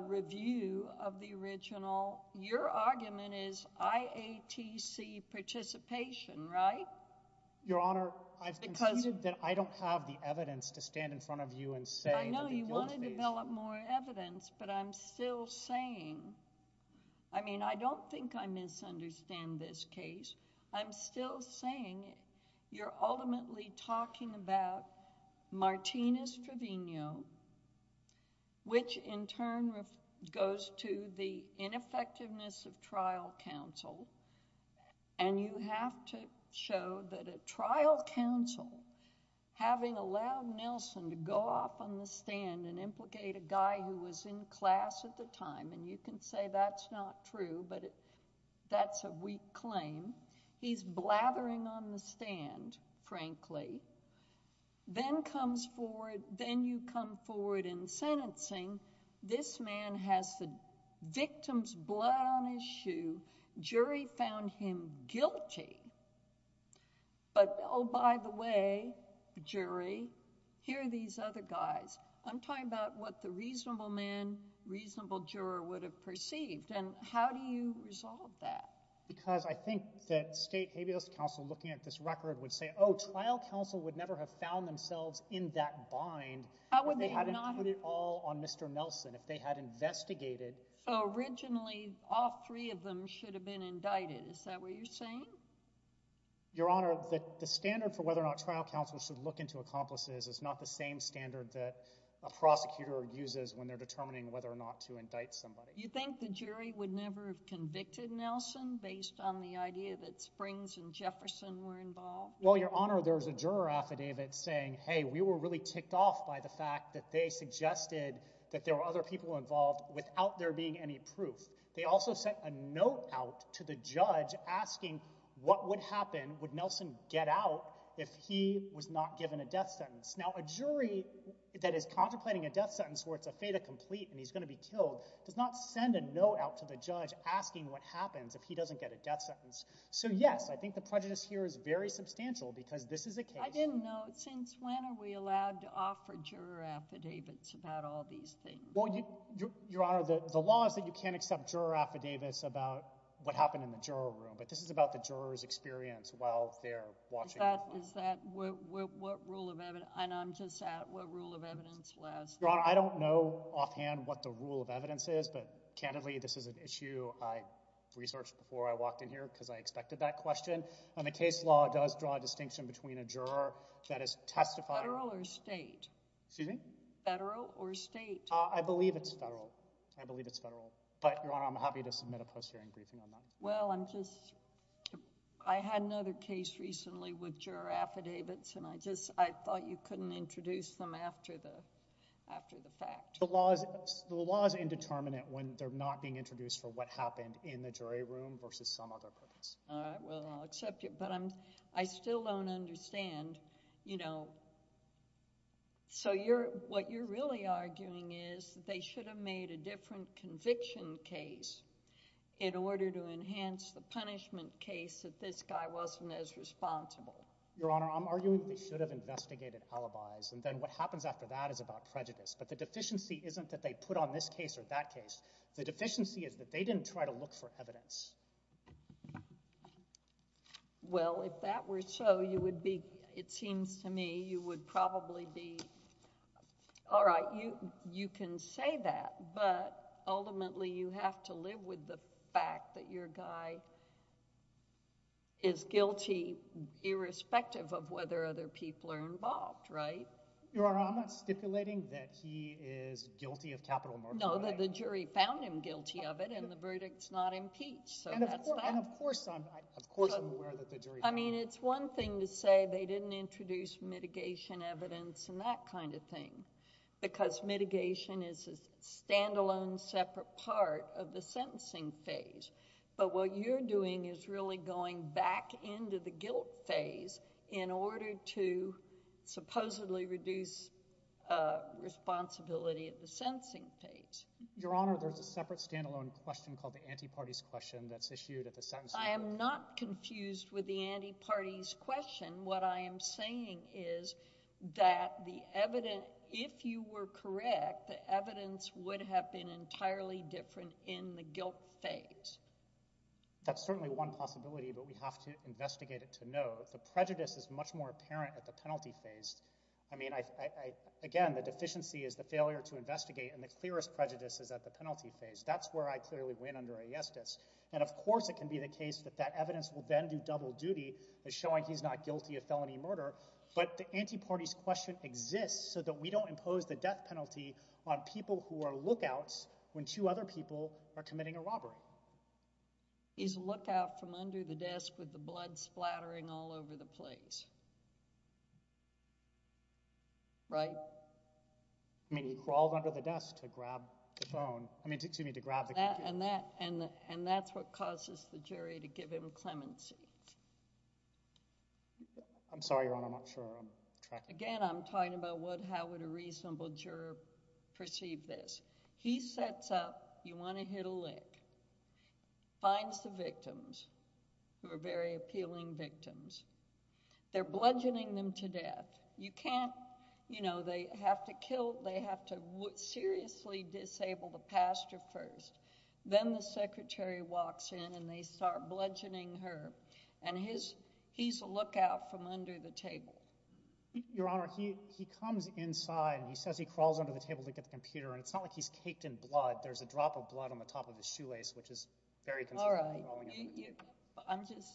review of the original. Your argument is IATC participation, right? Your Honor, I've conceded that I don't have the evidence to stand in front of you and say... I know you want to develop more evidence, but I'm still saying... I mean, I don't think I misunderstand this case. I'm still saying you're ultimately talking about Martinez-Trevino, which in turn goes to the ineffectiveness of trial counsel, and you have to show that a trial counsel having allowed Nelson to go off on the stand and implicate a guy who was in class at the time, and you can say that's not true, but that's a weak claim. He's blathering on the stand, frankly. Then comes forward... Then you come forward in sentencing. This man has the victim's blood on his shoe. Jury found him guilty. But, oh, by the way, jury, here are these other guys. I'm talking about what the reasonable man, reasonable juror would have perceived, and how do you resolve that? Because I think that state habeas counsel looking at this record would say, oh, trial counsel would never have found themselves in that bind if they hadn't put it all on Mr. Nelson, if they had investigated... Originally, all three of them should have been indicted. Is that what you're saying? Your Honor, the standard for whether or not trial counsel should look into accomplices is not the same standard that a prosecutor uses when they're determining whether or not to indict somebody. You think the jury would never have convicted Nelson based on the idea that Springs and Jefferson were involved? Well, Your Honor, there was a juror affidavit saying, hey, we were really ticked off by the fact that they suggested that there were other people involved without there being any proof. They also sent a note out to the judge asking what would happen, would Nelson get out if he was not given a death sentence? Now, a jury that is contemplating a death sentence where it's a fata complete and he's going to be killed does not send a note out to the judge asking what happens if he doesn't get a death sentence. So, yes, I think the prejudice here is very substantial because this is a case... I didn't know, since when are we allowed to offer juror affidavits about all these things? Well, Your Honor, the law is that you can't accept juror affidavits about what happened in the juror room, but this is about the juror's experience while they're watching... What rule of evidence... Your Honor, I don't know offhand what the rule of evidence is, but candidly, this is an issue I researched before I walked in here because I expected that question. The case law does draw a distinction between a juror that is testifying... Federal or state? Excuse me? Federal or state? I believe it's federal. I believe it's federal. But, Your Honor, I'm happy to submit a post-hearing briefing on that. Well, I'm just... I had another case recently with juror affidavits, and I just thought you couldn't introduce them after the fact. The law is indeterminate when they're not being introduced for what happened in the jury room versus some other purpose. All right, well, I'll accept it, but I still don't understand. So, what you're really arguing is that they should have made a different conviction case in order to enhance the punishment case that this guy wasn't as responsible. Your Honor, I'm arguing they should have investigated alibis, and then what happens after that is about prejudice. But the deficiency isn't that they put on this case or that case. The deficiency is that they didn't try to look for evidence. Well, if that were so, you would be... It seems to me you would probably be... All right, you can say that, but ultimately you have to live with the fact that your guy is guilty irrespective of whether other people are involved, right? Your Honor, I'm not stipulating that he is guilty of capital murder. No, that the jury found him guilty of it and the verdict's not impeached, so that's that. And of course I'm aware that the jury found him guilty. I mean, it's one thing to say they didn't introduce mitigation evidence and that kind of thing, because mitigation is a stand-alone separate part of the sentencing phase. But what you're doing is really going back into the guilt phase in order to supposedly reduce responsibility at the sentencing phase. Your Honor, there's a separate stand-alone question called the anti-parties question that's issued at the sentencing... I am not confused with the anti-parties question. What I am saying is that the evidence, if you were correct, the evidence would have been entirely different in the guilt phase. That's certainly one possibility, but we have to investigate it to know. The prejudice is much more apparent at the penalty phase. I mean, again, the deficiency is the failure to investigate and the clearest prejudice is at the penalty phase. That's where I clearly win under a yes-diss. And of course it can be the case that evidence will then do double duty as showing he's not guilty of felony murder, but the anti-parties question exists so that we don't impose the death penalty on people who are lookouts when two other people are committing a robbery. He's a lookout from under the desk with the blood splattering all over the place. Right? I mean, he crawled under the desk to grab the phone. I mean, excuse me, to grab the computer. And that's what causes the jury to give him clemency. I'm sorry, Your Honor, I'm not sure I'm tracking. Again, I'm talking about how would a reasonable juror perceive this. He sets up, you want to hit a lick, finds the victims who are very appealing victims. They're bludgeoning them to death. You can't, you know, they have to kill, they have to seriously disable the pastor first. Then the secretary walks in and they start bludgeoning her. And he's a lookout from under the table. Your Honor, he comes inside and he says he crawls under the table to get the computer and it's not like he's caked in blood. There's a drop of blood on the top of his shoelace, which is very concerning. I'm just,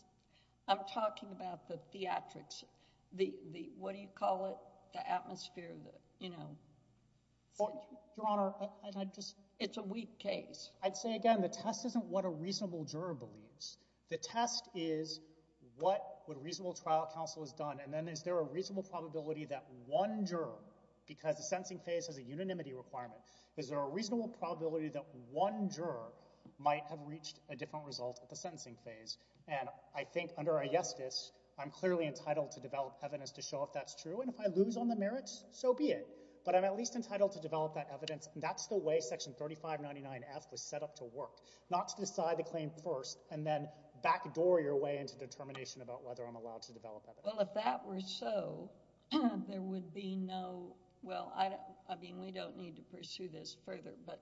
I'm talking about the theatrics. What do you call it? The atmosphere, you know. Your Honor, it's a weak case. I'd say again, the test isn't what a reasonable juror believes. The test is what a reasonable trial counsel has done and then is there a reasonable probability that one juror, because the sentencing phase has a unanimity requirement, is there a reasonable probability that one juror might have reached a different result at the sentencing phase. And I think under a yes test, I'm clearly entitled to develop evidence to show if that's true and if I lose on the merits, so be it. But I'm at least entitled to develop that evidence and that's the way Section 3599F was set up to work. Not to decide the claim first and then backdoor your way into determination about whether I'm allowed to develop evidence. Well, if that were so, there would be no, well, I mean, we don't need to pursue this further, but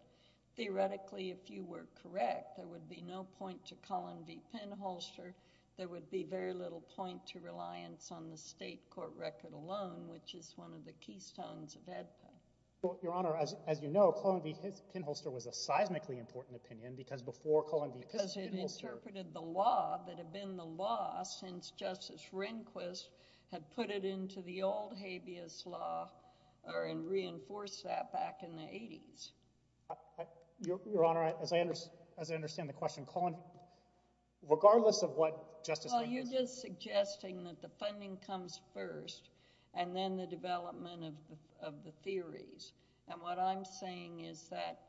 theoretically, if you were correct, there would be no point to Colin v. Pinholster. There would be very little point to reliance on the state court record alone, which is one of the keystones of Edpa. Well, Your Honor, as you know, Colin v. Pinholster was a seismically important opinion because before Colin v. Pinholster... Because it interpreted the law that had been the law since Justice Rehnquist had put it into the old habeas law and reinforced that back in the 80s. Your Honor, as I understand the question, Colin, regardless of what Justice Rehnquist... Well, you're just suggesting that the funding comes first and then the development of the theories. And what I'm saying is that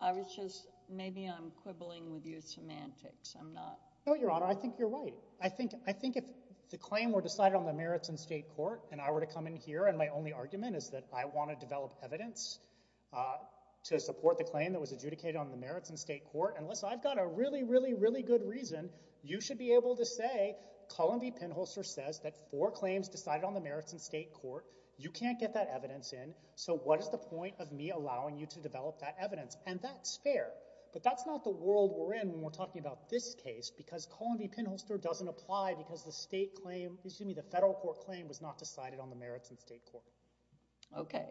I was just, maybe I'm quibbling with your semantics. I'm not. No, Your Honor, I think you're right. I think if the claim were decided on the merits in state court and I were to come in here and my only argument is that I want to develop evidence to support the claim that was adjudicated on the merits in state court, unless I've got a really, really, really good reason, you should be able to say Colin v. Pinholster says that four claims decided on the merits in state court. You can't get that evidence in, so what is the point of me allowing you to develop that evidence? And that's fair. But that's not the world we're in when we're talking about this case because Colin v. Pinholster doesn't apply because the federal court claim was not decided on the merits in state court. Okay.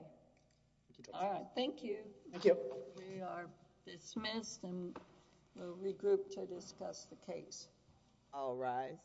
Thank you. We are dismissed and we'll regroup to discuss the case. I'll rise.